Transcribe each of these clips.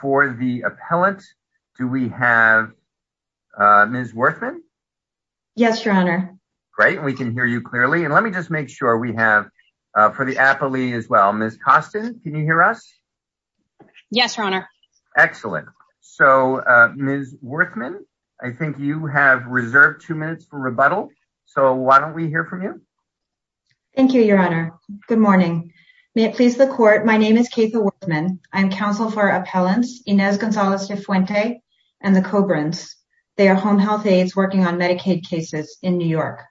For the appellate, do we have Ms. Werthmann? Yes, Your Honor. Great, we can hear you clearly. And let me just make sure we have for the appellee as well, Ms. Costin, can you hear us? Yes, Your Honor. Excellent. So, Ms. Werthmann, I think you have reserved two minutes for rebuttal. So, why don't we hear from you? Thank you, Your Honor. Good morning. May it please the Court, my name is Katha Werthmann. I am counsel for appellants Inez Gonzales de Fuente and the Cobrans. They are home health aides working on Medicaid cases in New York.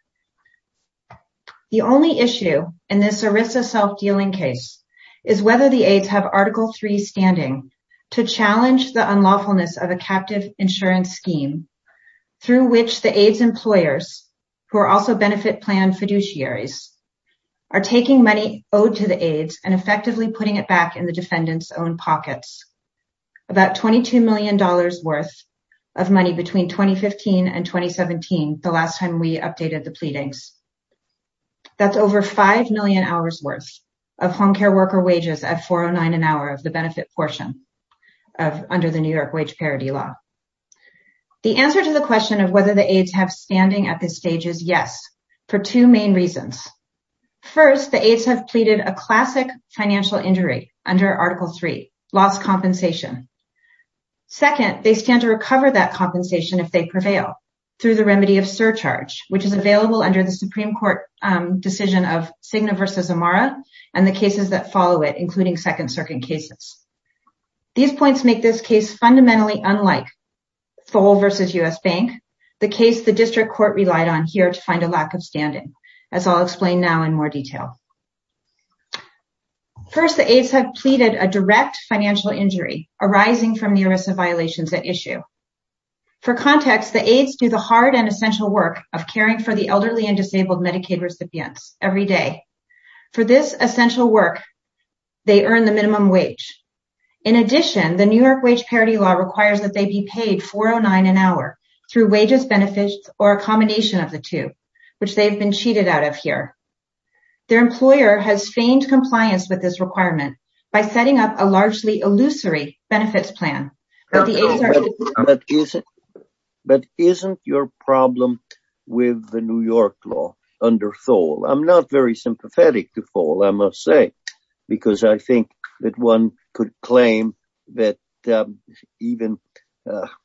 The only issue in this ERISA self-dealing case is whether the aides have Article 3 standing to challenge the unlawfulness of a captive insurance scheme, through which the aides' employers, who are also benefit plan fiduciaries, are taking money owed to the aides and effectively putting it back in the defendant's own pockets. About $22 million worth of money between 2015 and 2017, the last time we updated the pleadings. That's over $5 million worth of home care worker wages at $4.09 an hour of the benefit portion under the New York wage parity law. The answer to the question of whether the aides have standing at this stage is yes, for two main reasons. First, the aides have pleaded a classic financial injury under Article 3, loss compensation. Second, they stand to recover that compensation if they prevail, through the remedy of surcharge, which is available under the Supreme Court decision of Cigna v. Amara and the cases that follow it, including Second Circuit cases. These points make this case fundamentally unlike Foale v. U.S. Bank, the case the district court relied on here to find a lack of standing, as I'll explain now in more detail. First, the aides have pleaded a direct financial injury arising from the ERISA violations at issue. For context, the aides do the hard and essential work of caring for the elderly and disabled Medicaid recipients every day. For this essential work, they earn the minimum wage. In addition, the New York wage parity law requires that they be paid $4.09 an hour through wages, benefits, or a combination of the two, which they have been cheated out of here. Their employer has feigned compliance with this requirement by setting up a largely illusory benefits plan. But isn't your problem with the New York law under Foale? I'm not very sympathetic to Foale, I must say, because I think that one could claim that even,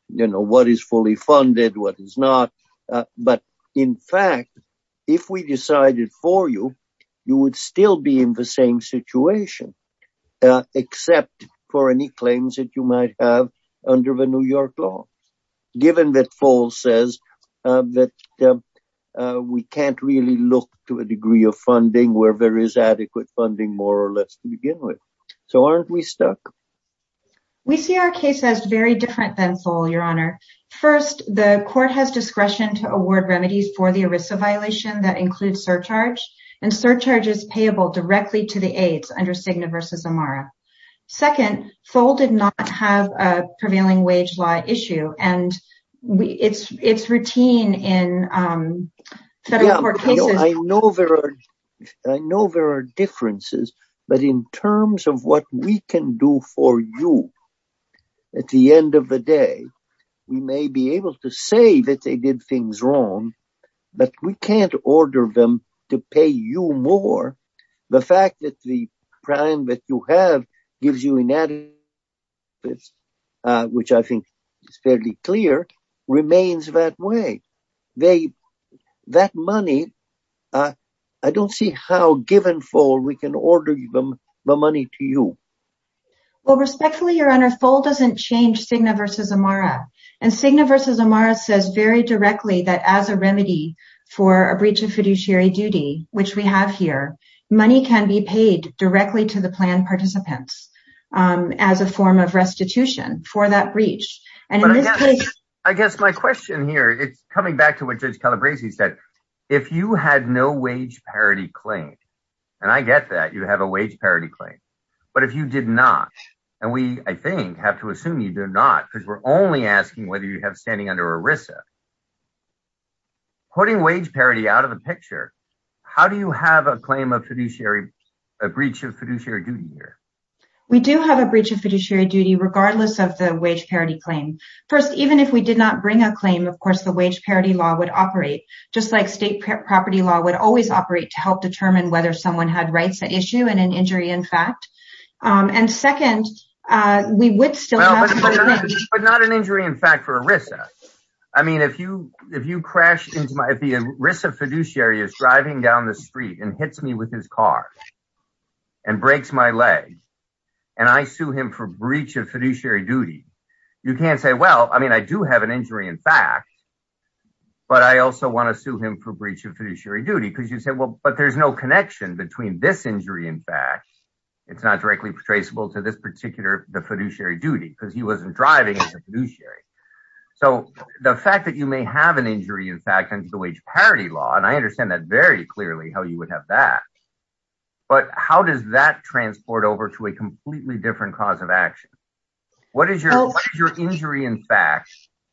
you know, what is fully funded, what is not. But in fact, if we decided for you, you would still be in the same situation, except for any claims that you might have under the New York law, given that Foale says that we can't really look to a degree of funding where there is adequate funding, more or less, to begin with. So aren't we stuck? We see our case as very different than Foale, Your Honor. First, the court has discretion to award remedies for the ERISA violation that includes surcharge, and surcharge is payable directly to the aides under Cigna v. Amara. Second, Foale did not have a prevailing wage law issue, and it's routine in federal court cases. I know there are differences, but in terms of what we can do for you, at the end of the day, we may be able to say that they did things wrong, but we can't order them to pay you more. The fact that the prime that you have gives you inadequate benefits, which I think is fairly clear, remains that way. That money, I don't see how, given Foale, we can order the money to you. Well, respectfully, Your Honor, Foale doesn't change Cigna v. Amara, and Cigna v. Amara says very directly that as a remedy for a breach of fiduciary duty, which we have here, money can be paid directly to the plan participants as a form of restitution for that breach. I guess my question here, it's coming back to what Judge Calabresi said. If you had no wage parity claim, and I get that you have a wage parity claim, but if you did not, and we, I think, have to assume you do not, because we're only asking whether you have standing under ERISA, putting wage parity out of the picture, how do you have a claim of fiduciary, a breach of fiduciary duty here? We do have a breach of fiduciary duty regardless of the wage parity claim. First, even if we did not bring a claim, of course, the wage parity law would operate, just like state property law would always operate to help determine whether someone had rights at issue and an injury in fact. And second, we would still have money. So, the fact that you may have an injury in fact under the wage parity law, and I understand that very clearly how you would have that, but how does that transport over to a completely different cause of action? What is your injury in fact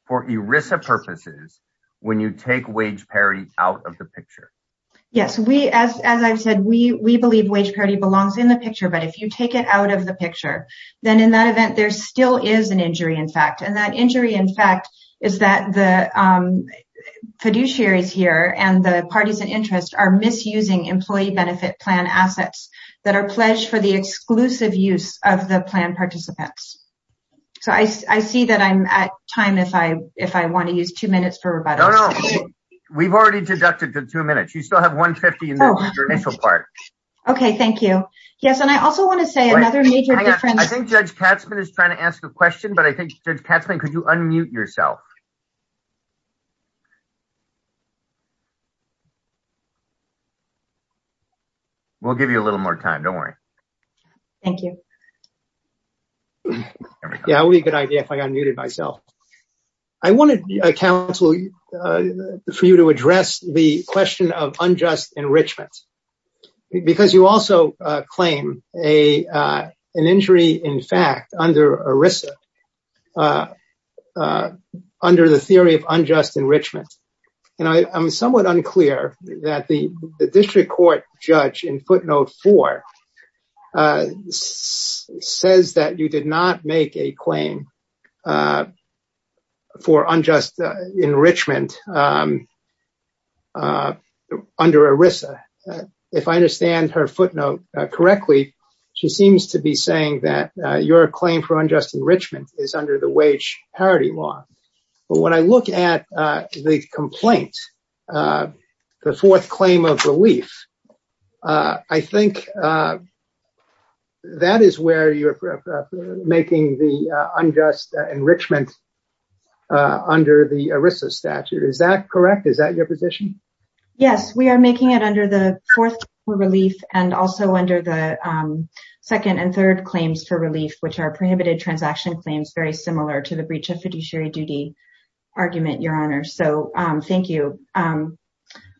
for ERISA purposes when you take wage parity out of the picture? Yes, as I've said, we believe wage parity belongs in the picture, but if you take it out of the picture, then in that event, there still is an injury in fact, and that injury in fact is that the fiduciaries here and the parties in interest are misusing employee benefit plan assets that are pledged for the exclusive use of the plan participants. So, I see that I'm at time if I want to use two minutes for rebuttal. No, no, we've already deducted the two minutes. You still have 150 in the initial part. Okay, thank you. Yes, and I also want to say another major difference. I think Judge Katzmann is trying to ask a question, but I think Judge Katzmann, could you unmute yourself? We'll give you a little more time, don't worry. Thank you. Yeah, it would be a good idea if I unmuted myself. I wanted, counsel, for you to address the question of unjust enrichment, because you also claim an injury in fact under ERISA, under the theory of unjust enrichment. And I'm somewhat unclear that the district court judge in footnote four says that you did not make a claim for unjust enrichment under ERISA. If I understand her footnote correctly, she seems to be saying that your claim for unjust enrichment is under the wage parity law. But when I look at the complaint, the fourth claim of relief, I think that is where you're making the unjust enrichment under the ERISA statute. Is that correct? Is that your position? Yes, we are making it under the fourth relief and also under the second and third claims for relief, which are prohibited transaction claims, very similar to the breach of fiduciary duty argument, Your Honor. So thank you.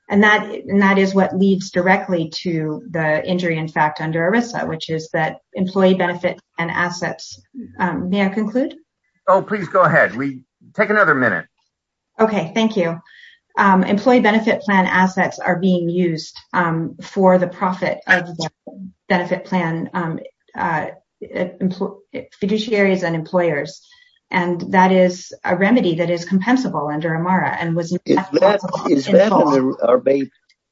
And that is what leads directly to the injury, in fact, under ERISA, which is that employee benefit and assets. May I conclude? Oh, please go ahead. We take another minute. OK, thank you. Employee benefit plan assets are being used for the profit benefit plan fiduciaries and employers. And that is a remedy that is compensable under AMARA. And was that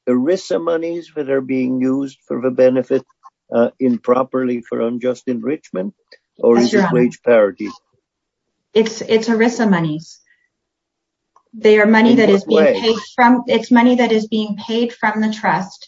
ERISA monies that are being used for the benefit improperly for unjust enrichment or wage parity? It's ERISA monies. They are money that is from its money that is being paid from the trust.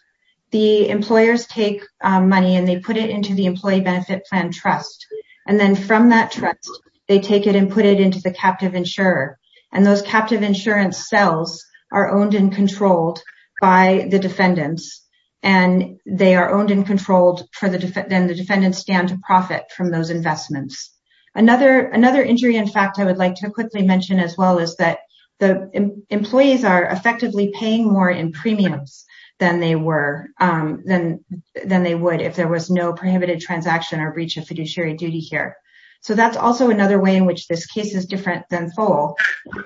The employers take money and they put it into the employee benefit plan trust. And then from that trust, they take it and put it into the captive insurer. And those captive insurance cells are owned and controlled by the defendants. And they are owned and controlled for the defendant. The defendants stand to profit from those investments. Another another injury, in fact, I would like to quickly mention as well, is that the employees are effectively paying more in premiums than they were, than than they would if there was no prohibited transaction or breach of fiduciary duty here. So that's also another way in which this case is different than FOAL.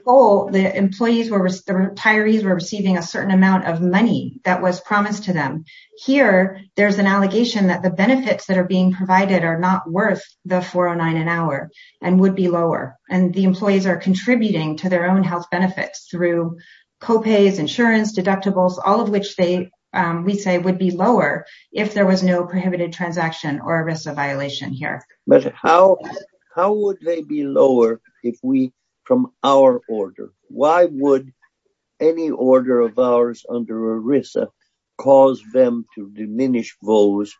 FOAL, the employees were the retirees were receiving a certain amount of money that was promised to them. Here, there's an allegation that the benefits that are being provided are not worth the 409 an hour and would be lower. And the employees are contributing to their own health benefits through copays, insurance, deductibles, all of which they would say would be lower if there was no prohibited transaction or ERISA violation here. But how how would they be lower if we from our order? Why would any order of ours under ERISA cause them to diminish those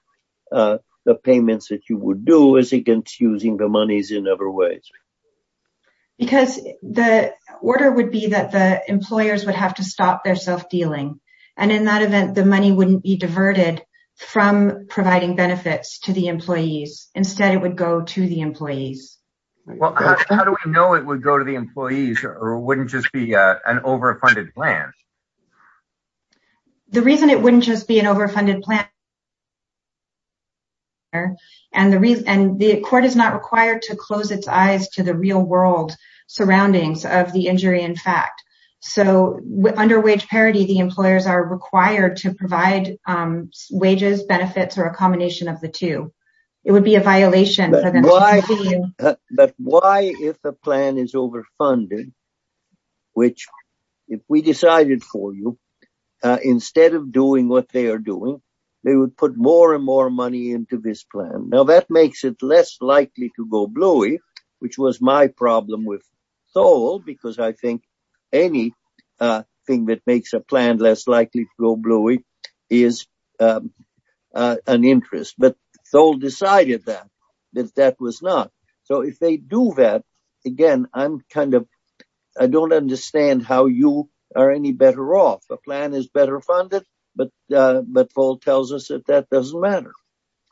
payments that you would do as against using the monies in other ways? Because the order would be that the employers would have to stop their self-dealing. And in that event, the money wouldn't be diverted from providing benefits to the employees. Instead, it would go to the employees. Well, how do we know it would go to the employees or wouldn't just be an overfunded plan? The reason it wouldn't just be an overfunded plan. And the reason and the court is not required to close its eyes to the real world surroundings of the injury, in fact. So under wage parity, the employers are required to provide wages, benefits or a combination of the two. It would be a violation. But why? But why if the plan is overfunded? Which if we decided for you, instead of doing what they are doing, they would put more and more money into this plan. Now, that makes it less likely to go bluey, which was my problem with soul, because I think any thing that makes a plan less likely to go bluey is an interest. But it's all decided that that was not. So if they do that again, I'm kind of I don't understand how you are any better off. The plan is better funded. But but Paul tells us that that doesn't matter.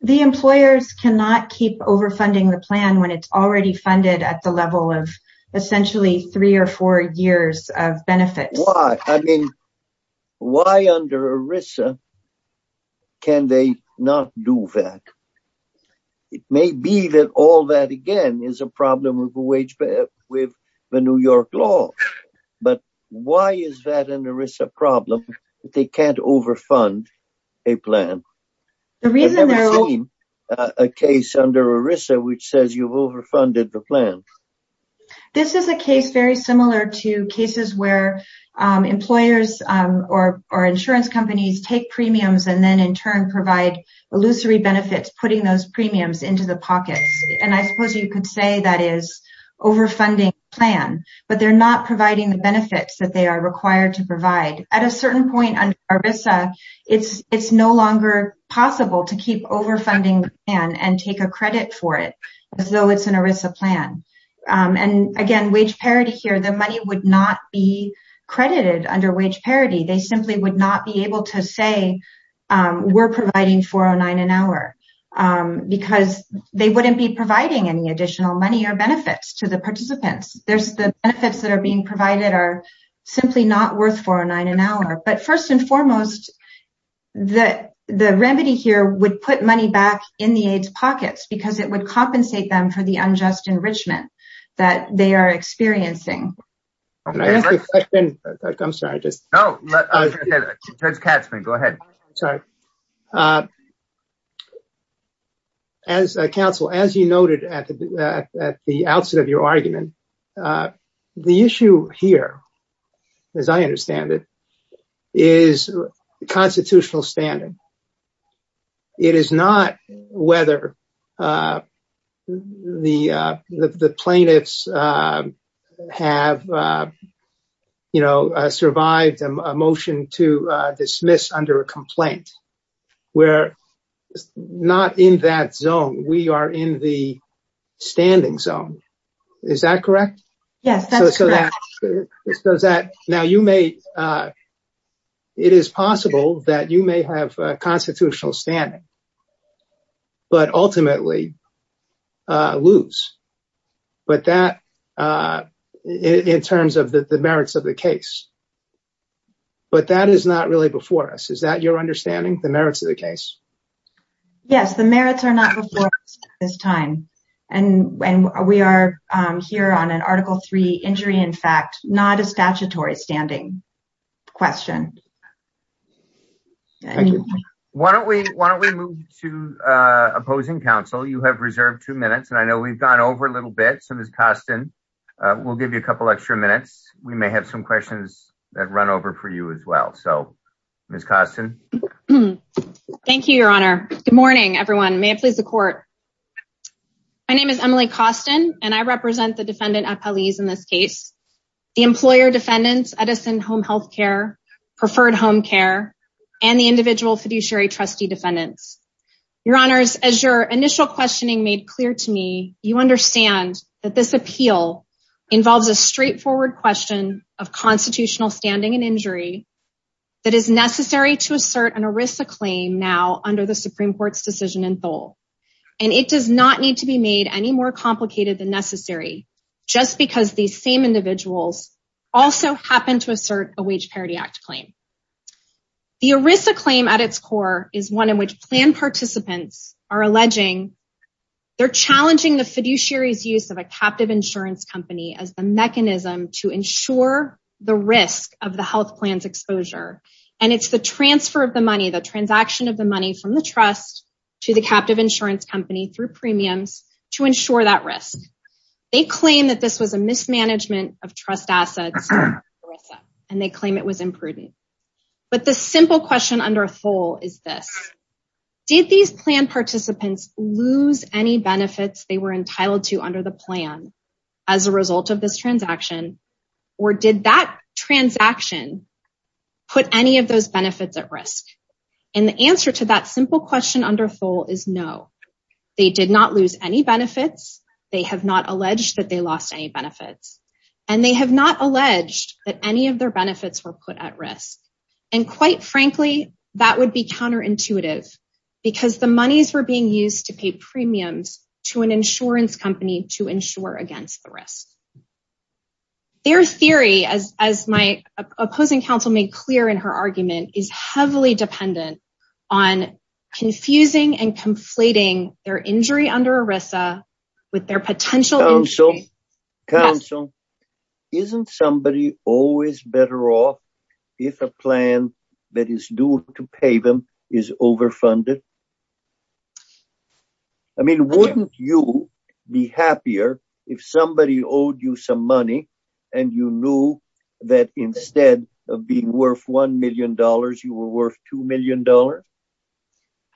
The employers cannot keep overfunding the plan when it's already funded at the level of essentially three or four years of benefit. Why? I mean, why under Arisa? Can they not do that? It may be that all that, again, is a problem of wage with the New York law. But why is that an Arisa problem? They can't overfund a plan. The reason there is a case under Arisa, which says you've overfunded the plan. This is a case very similar to cases where employers or insurance companies take premiums and then in turn provide illusory benefits, putting those premiums into the pockets. And I suppose you could say that is overfunding plan, but they're not providing the benefits that they are required to provide. At a certain point on Arisa, it's it's no longer possible to keep overfunding and take a credit for it. So it's an Arisa plan. And again, wage parity here. The money would not be credited under wage parity. They simply would not be able to say we're providing for a nine an hour because they wouldn't be providing any additional money or benefits to the participants. There's the benefits that are being provided are simply not worth for a nine an hour. But first and foremost, that the remedy here would put money back in the AIDS pockets because it would compensate them for the unjust enrichment that they are experiencing. I'm sorry, just go ahead. As a council, as you noted at the outset of your argument, the issue here, as I understand it, is constitutional standing. It is not whether the the plaintiffs have, you know, survived a motion to dismiss under a complaint. We're not in that zone. We are in the standing zone. Is that correct? Yes, so that now you may. It is possible that you may have constitutional standing. But ultimately lose. But that in terms of the merits of the case. But that is not really before us. Is that your understanding? The merits of the case? Yes, the merits are not before this time. And we are here on an article three injury. In fact, not a statutory standing question. Why don't we why don't we move to opposing counsel? You have reserved two minutes. And I know we've gone over a little bit. So, Miss Costin, we'll give you a couple extra minutes. We may have some questions that run over for you as well. So, Miss Costin. Thank you, Your Honor. Good morning, everyone. May it please the court. My name is Emily Costin, and I represent the defendant appellees in this case. The employer defendants, Edison Home Health Care, preferred home care and the individual fiduciary trustee defendants. Your honors, as your initial questioning made clear to me, you understand that this appeal involves a straightforward question of constitutional standing and injury. That is necessary to assert an ERISA claim now under the Supreme Court's decision in full. And it does not need to be made any more complicated than necessary just because these same individuals also happen to assert a wage parity act claim. The ERISA claim at its core is one in which plan participants are alleging they're challenging the fiduciary's use of a captive insurance company as the mechanism to ensure the risk of the health plans exposure. And it's the transfer of the money, the transaction of the money from the trust to the captive insurance company through premiums to ensure that risk. They claim that this was a mismanagement of trust assets, and they claim it was imprudent. But the simple question under full is this. Did these plan participants lose any benefits they were entitled to under the plan as a result of this transaction? Or did that transaction put any of those benefits at risk? And the answer to that simple question under full is no, they did not lose any benefits. They have not alleged that they lost any benefits, and they have not alleged that any of their benefits were put at risk. And quite frankly, that would be counterintuitive because the monies were being used to pay premiums to an insurance company to ensure against the risk. Their theory, as my opposing counsel made clear in her argument, is heavily dependent on confusing and conflating their injury under ERISA with their potential insurance. Counsel, isn't somebody always better off if a plan that is due to pay them is overfunded? I mean, wouldn't you be happier if somebody owed you some money and you knew that instead of being worth $1 million, you were worth $2 million?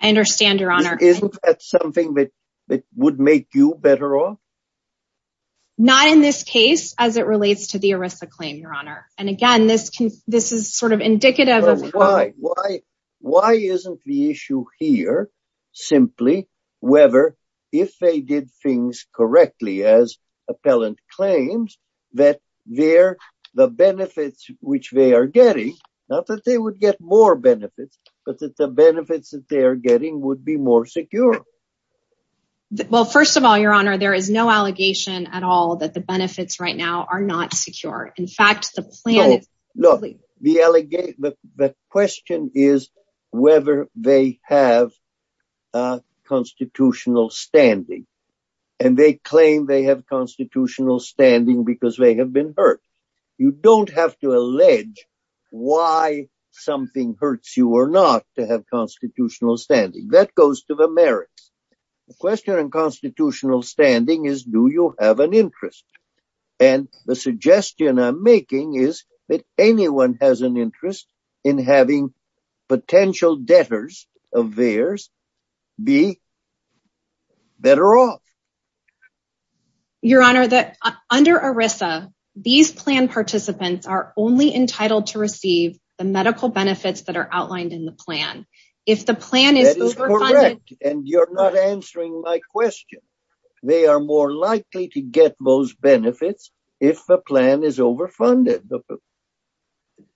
I understand, Your Honor. Isn't that something that would make you better off? Not in this case as it relates to the ERISA claim, Your Honor. Why isn't the issue here simply whether if they did things correctly as appellant claims that the benefits which they are getting, not that they would get more benefits, but that the benefits that they are getting would be more secure? Well, first of all, Your Honor, there is no allegation at all that the benefits right now are not secure. Look, the question is whether they have constitutional standing and they claim they have constitutional standing because they have been hurt. You don't have to allege why something hurts you or not to have constitutional standing. That goes to the merits. The question in constitutional standing is do you have an interest? And the suggestion I'm making is that anyone has an interest in having potential debtors of theirs be better off. Your Honor, under ERISA, these plan participants are only entitled to receive the medical benefits that are outlined in the plan. That is correct, and you're not answering my question. They are more likely to get those benefits if the plan is overfunded.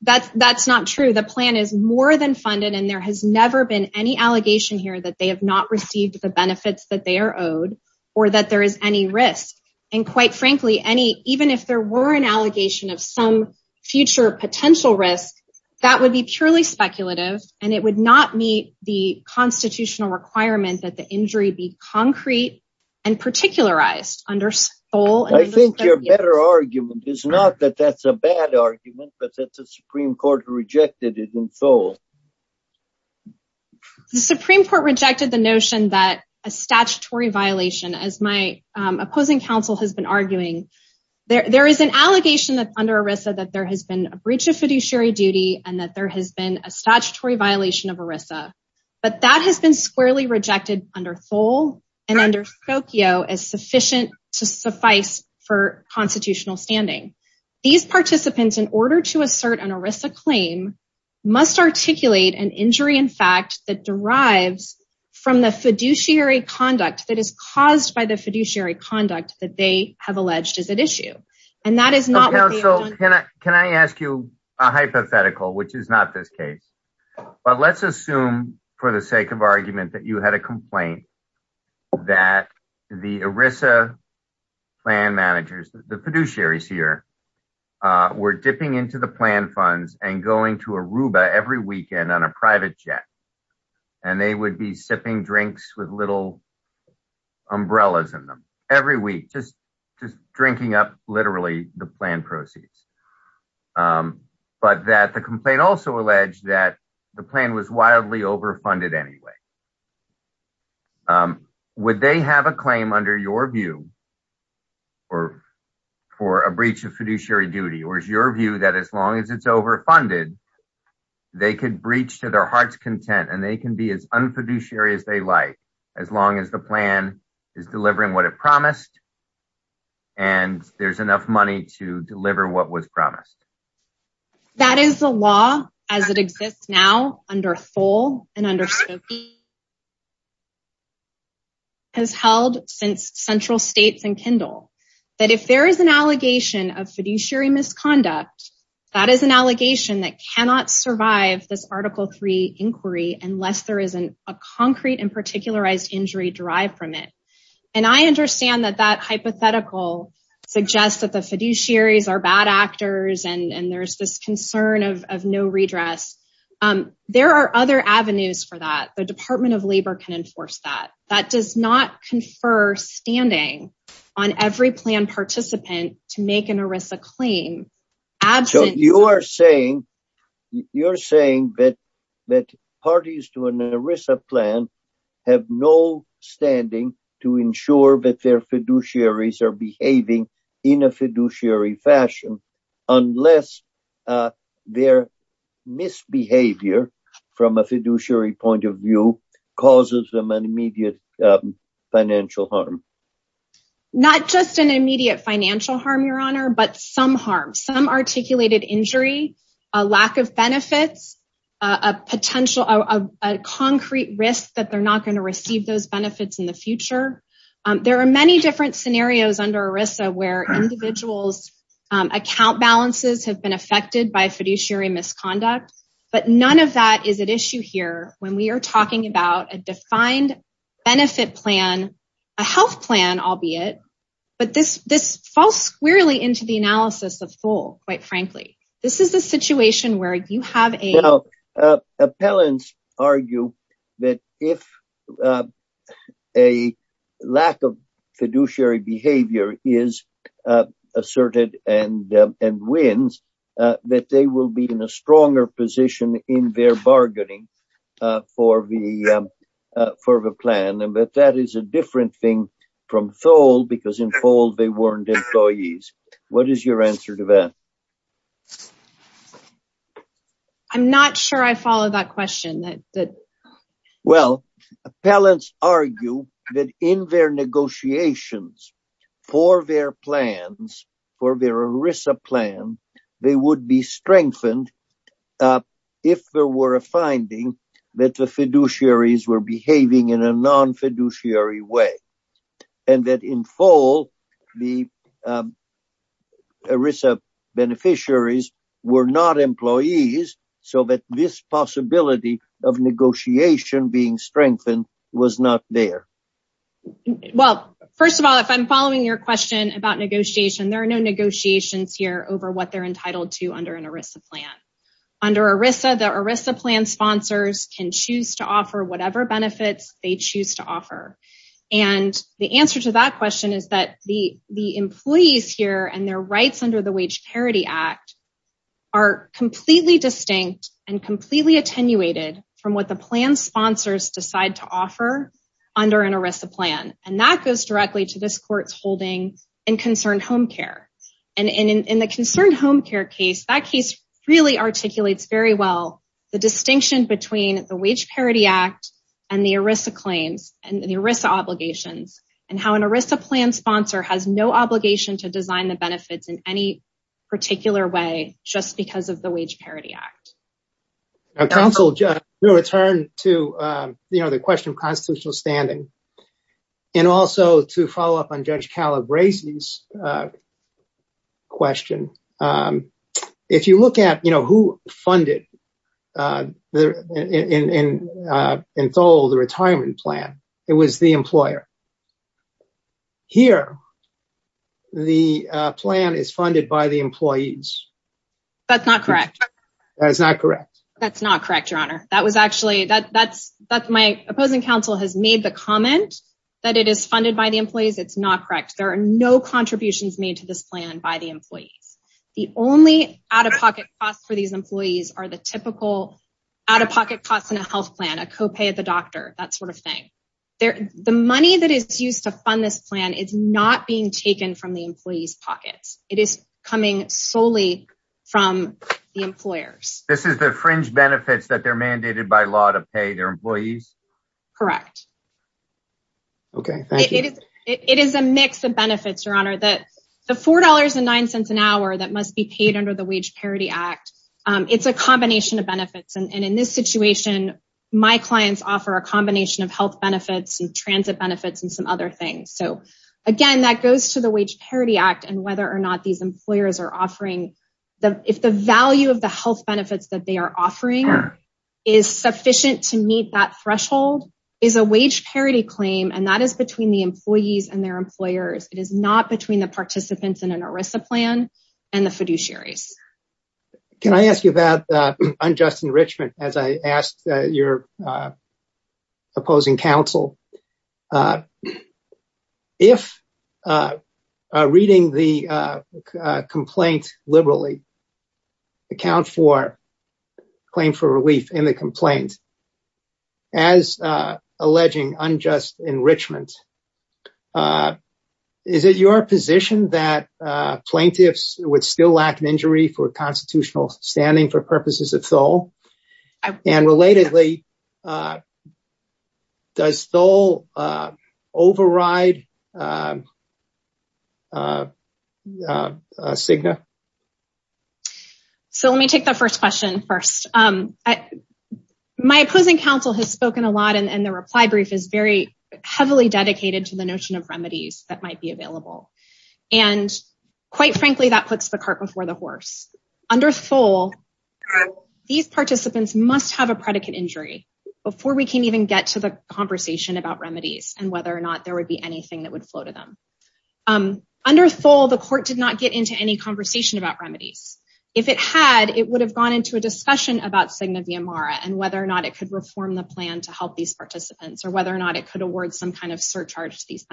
That's not true. The plan is more than funded, and there has never been any allegation here that they have not received the benefits that they are owed or that there is any risk. And quite frankly, even if there were an allegation of some future potential risk, that would be purely speculative, and it would not meet the constitutional requirement that the injury be concrete and particularized. I think your better argument is not that that's a bad argument, but that the Supreme Court rejected it in Seoul. The Supreme Court rejected the notion that a statutory violation, as my opposing counsel has been arguing, there is an allegation under ERISA that there has been a breach of fiduciary duty and that there has been a statutory violation of ERISA. But that has been squarely rejected under Seoul and under Tokyo as sufficient to suffice for constitutional standing. These participants, in order to assert an ERISA claim, must articulate an injury in fact that derives from the fiduciary conduct that is caused by the fiduciary conduct that they have alleged is at issue. So, counsel, can I ask you a hypothetical, which is not this case. But let's assume, for the sake of argument, that you had a complaint that the ERISA plan managers, the fiduciaries here, were dipping into the plan funds and going to Aruba every weekend on a private jet. And they would be sipping drinks with little umbrellas in them every week, just drinking up literally the plan proceeds. But that the complaint also alleged that the plan was wildly overfunded anyway. Would they have a claim under your view, or for a breach of fiduciary duty, or is your view that as long as it's overfunded, they could breach to their heart's content and they can be as unfiduciary as they like, as long as the plan is delivering what it promised. And there's enough money to deliver what was promised. That is the law as it exists now under Thole and under Skokie. It has held since central states and Kindle. That if there is an allegation of fiduciary misconduct, that is an allegation that cannot survive this Article III inquiry unless there is a concrete and particularized injury derived from it. And I understand that that hypothetical suggests that the fiduciaries are bad actors and there's this concern of no redress. There are other avenues for that. The Department of Labor can enforce that. That does not confer standing on every plan participant to make an ERISA claim. You are saying that parties to an ERISA plan have no standing to ensure that their fiduciaries are behaving in a fiduciary fashion unless their misbehavior from a fiduciary point of view causes them an immediate financial harm. Not just an immediate financial harm, Your Honor, but some harm, some articulated injury, a lack of benefits, a concrete risk that they're not going to receive those benefits in the future. There are many different scenarios under ERISA where individuals' account balances have been affected by fiduciary misconduct. But none of that is at issue here when we are talking about a defined benefit plan, a health plan, albeit. But this falls squarely into the analysis of Thole, quite frankly. Now, appellants argue that if a lack of fiduciary behavior is asserted and wins, that they will be in a stronger position in their bargaining for the plan. But that is a different thing from Thole because in Thole they weren't employees. What is your answer to that? I'm not sure I follow that question. Well, appellants argue that in their negotiations for their plans, for their ERISA plan, they would be strengthened if there were a finding that the fiduciaries were behaving in a non-fiduciary way. And that in Thole, the ERISA beneficiaries were not employees, so that this possibility of negotiation being strengthened was not there. Well, first of all, if I'm following your question about negotiation, there are no negotiations here over what they're entitled to under an ERISA plan. Under ERISA, the ERISA plan sponsors can choose to offer whatever benefits they choose to offer. And the answer to that question is that the employees here and their rights under the Wage Parity Act are completely distinct and completely attenuated from what the plan sponsors decide to offer under an ERISA plan. And that goes directly to this court's holding in Concerned Home Care. And in the Concerned Home Care case, that case really articulates very well the distinction between the Wage Parity Act and the ERISA claims and the ERISA obligations and how an ERISA plan sponsor has no obligation to design the benefits in any particular way just because of the Wage Parity Act. Counsel, to return to the question of constitutional standing and also to follow up on Judge Calabrese's question, if you look at who funded in Thole the retirement plan, it was the employer. Here, the plan is funded by the employees. That's not correct. That's not correct, Your Honor. My opposing counsel has made the comment that it is funded by the employees. It's not correct. There are no contributions made to this plan by the employees. The only out-of-pocket costs for these employees are the typical out-of-pocket costs in a health plan, a copay at the doctor, that sort of thing. The money that is used to fund this plan is not being taken from the employees' pockets. It is coming solely from the employers. This is the fringe benefits that they're mandated by law to pay their employees? Correct. Okay. Thank you. It is a mix of benefits, Your Honor. The $4.09 an hour that must be paid under the Wage Parity Act, it's a combination of benefits. And in this situation, my clients offer a combination of health benefits and transit benefits and some other things. So, again, that goes to the Wage Parity Act and whether or not these employers are offering. If the value of the health benefits that they are offering is sufficient to meet that threshold, is a wage parity claim, and that is between the employees and their employers. It is not between the participants in an ERISA plan and the fiduciaries. Can I ask you about unjust enrichment as I ask your opposing counsel? If reading the complaint liberally account for claim for relief in the complaint, as alleging unjust enrichment, is it your position that plaintiffs would still lack an injury for constitutional standing for purposes of Thole? And relatedly, does Thole override CIGNA? So let me take the first question first. My opposing counsel has spoken a lot and the reply brief is very heavily dedicated to the notion of remedies that might be available. And quite frankly, that puts the cart before the horse. Under Thole, these participants must have a predicate injury before we can even get to the conversation about remedies and whether or not there would be anything that would flow to them. Under Thole, the court did not get into any conversation about remedies. If it had, it would have gone into a discussion about CIGNA-VMARA and whether or not it could reform the plan to help these participants or whether or not it could award some kind of surcharge to these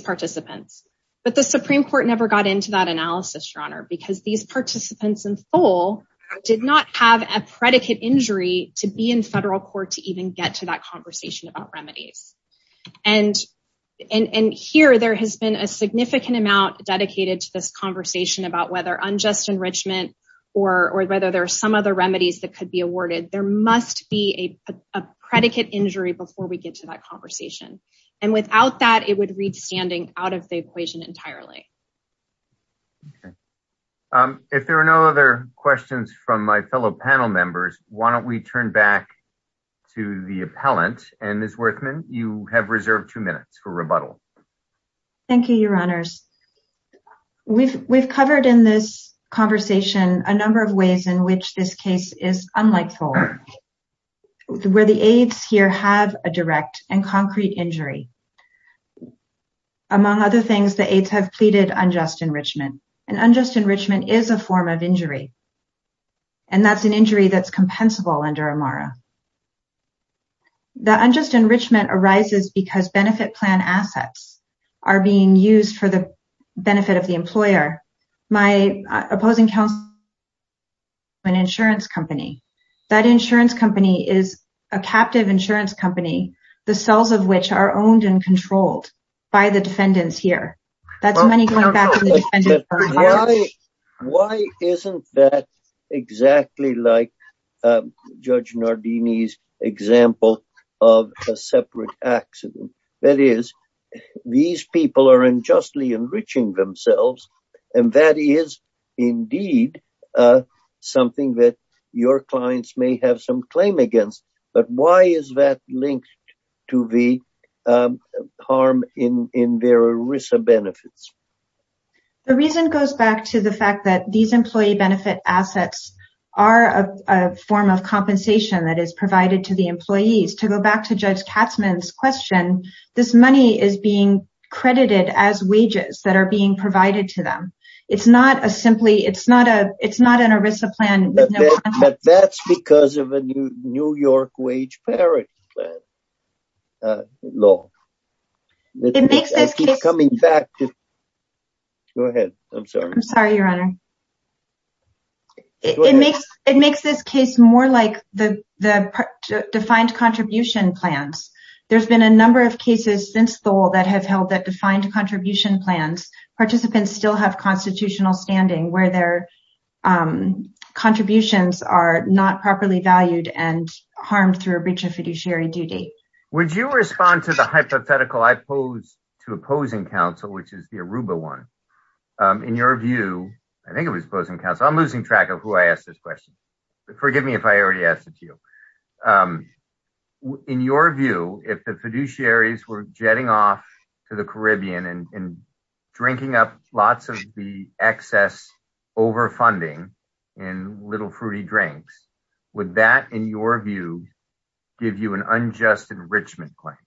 participants. But the Supreme Court never got into that analysis, Your Honor, because these participants in Thole did not have a predicate injury to be in federal court to even get to that conversation about remedies. And here there has been a significant amount dedicated to this conversation about whether unjust enrichment or whether there are some other remedies that could be awarded. There must be a predicate injury before we get to that conversation. And without that, it would read standing out of the equation entirely. If there are no other questions from my fellow panel members, why don't we turn back to the appellant? And Ms. Werthmann, you have reserved two minutes for rebuttal. Thank you, Your Honors. We've covered in this conversation a number of ways in which this case is unlike Thole, where the aides here have a direct and concrete injury. Among other things, the aides have pleaded unjust enrichment and unjust enrichment is a form of injury. And that's an injury that's compensable under Amara. The unjust enrichment arises because benefit plan assets are being used for the benefit of the employer. My opposing counsel, an insurance company, that insurance company is a captive insurance company, the cells of which are owned and controlled by the defendants here. That's money going back to the defendant. Why isn't that exactly like Judge Nardini's example of a separate accident? That is, these people are unjustly enriching themselves, and that is indeed something that your clients may have some claim against. But why is that linked to the harm in their ERISA benefits? The reason goes back to the fact that these employee benefit assets are a form of compensation that is provided to the employees. To go back to Judge Katzmann's question, this money is being credited as wages that are being provided to them. It's not a simply it's not a it's not an ERISA plan. But that's because of a New York wage parity law. It makes it coming back. Go ahead. I'm sorry. I'm sorry, Your Honor. It makes it makes this case more like the defined contribution plans. There's been a number of cases since the wall that have held that defined contribution plans. Participants still have constitutional standing where their contributions are not properly valued and harmed through a breach of fiduciary duty. Would you respond to the hypothetical I pose to opposing counsel, which is the Aruba one? In your view, I think it was opposing counsel. I'm losing track of who I asked this question. Forgive me if I already asked it to you. In your view, if the fiduciaries were jetting off to the Caribbean and drinking up lots of the excess overfunding and little fruity drinks, would that, in your view, give you an unjust enrichment claim?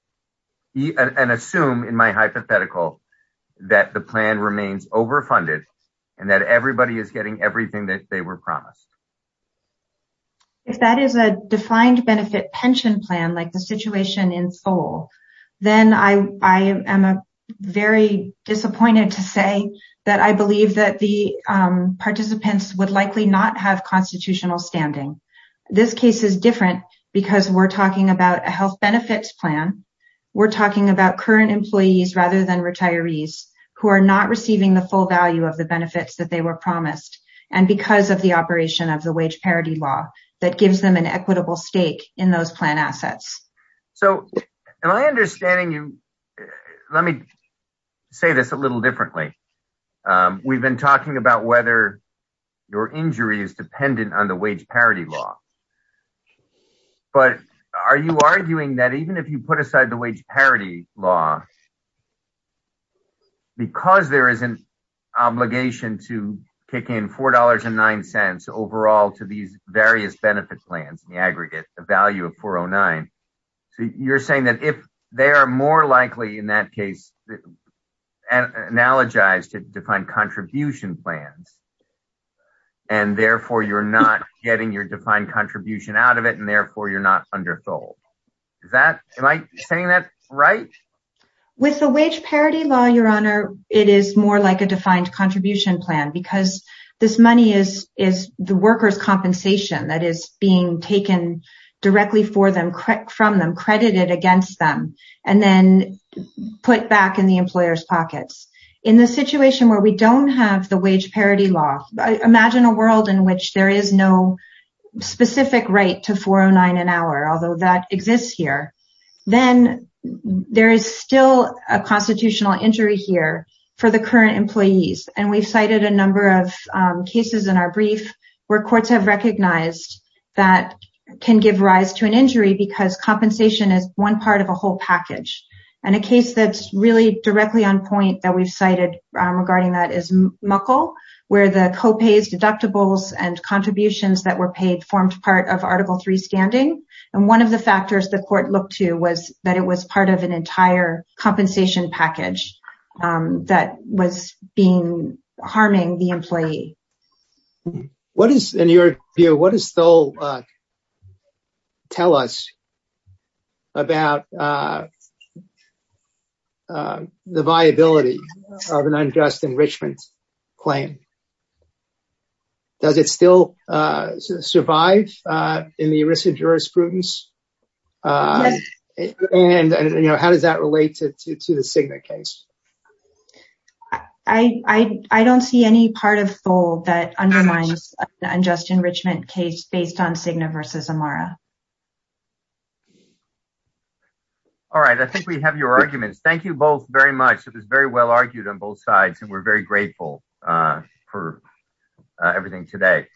And assume in my hypothetical that the plan remains overfunded and that everybody is getting everything that they were promised. If that is a defined benefit pension plan like the situation in Seoul, then I am very disappointed to say that I believe that the participants would likely not have constitutional standing. This case is different because we're talking about a health benefits plan. We're talking about current employees rather than retirees who are not receiving the full value of the benefits that they were promised. And because of the operation of the wage parity law that gives them an equitable stake in those plan assets. So am I understanding you? Let me say this a little differently. We've been talking about whether your injury is dependent on the wage parity law. But are you arguing that even if you put aside the wage parity law, because there is an obligation to kick in $4.09 overall to these various benefit plans in the aggregate, the value of $4.09. You're saying that if they are more likely, in that case, analogized to defined contribution plans. And therefore, you're not getting your defined contribution out of it. And therefore, you're not undersold. Am I saying that right? With the wage parity law, Your Honor, it is more like a defined contribution plan. Because this money is the workers' compensation that is being taken directly from them, credited against them, and then put back in the employers' pockets. In the situation where we don't have the wage parity law, imagine a world in which there is no specific right to $4.09 an hour, although that exists here. Then there is still a constitutional injury here for the current employees. And we've cited a number of cases in our brief where courts have recognized that can give rise to an injury because compensation is one part of a whole package. And a case that's really directly on point that we've cited regarding that is Muckle, where the co-pays, deductibles, and contributions that were paid formed part of Article III standing. And one of the factors the court looked to was that it was part of an entire compensation package that was harming the employee. What is, in your view, what does Stoll tell us about the viability of an unjust enrichment claim? Does it still survive in the risk of jurisprudence? And how does that relate to the Cigna case? I don't see any part of Stoll that undermines the unjust enrichment case based on Cigna versus Amara. All right. I think we have your arguments. Thank you both very much. It was very well argued on both sides, and we're very grateful for everything today.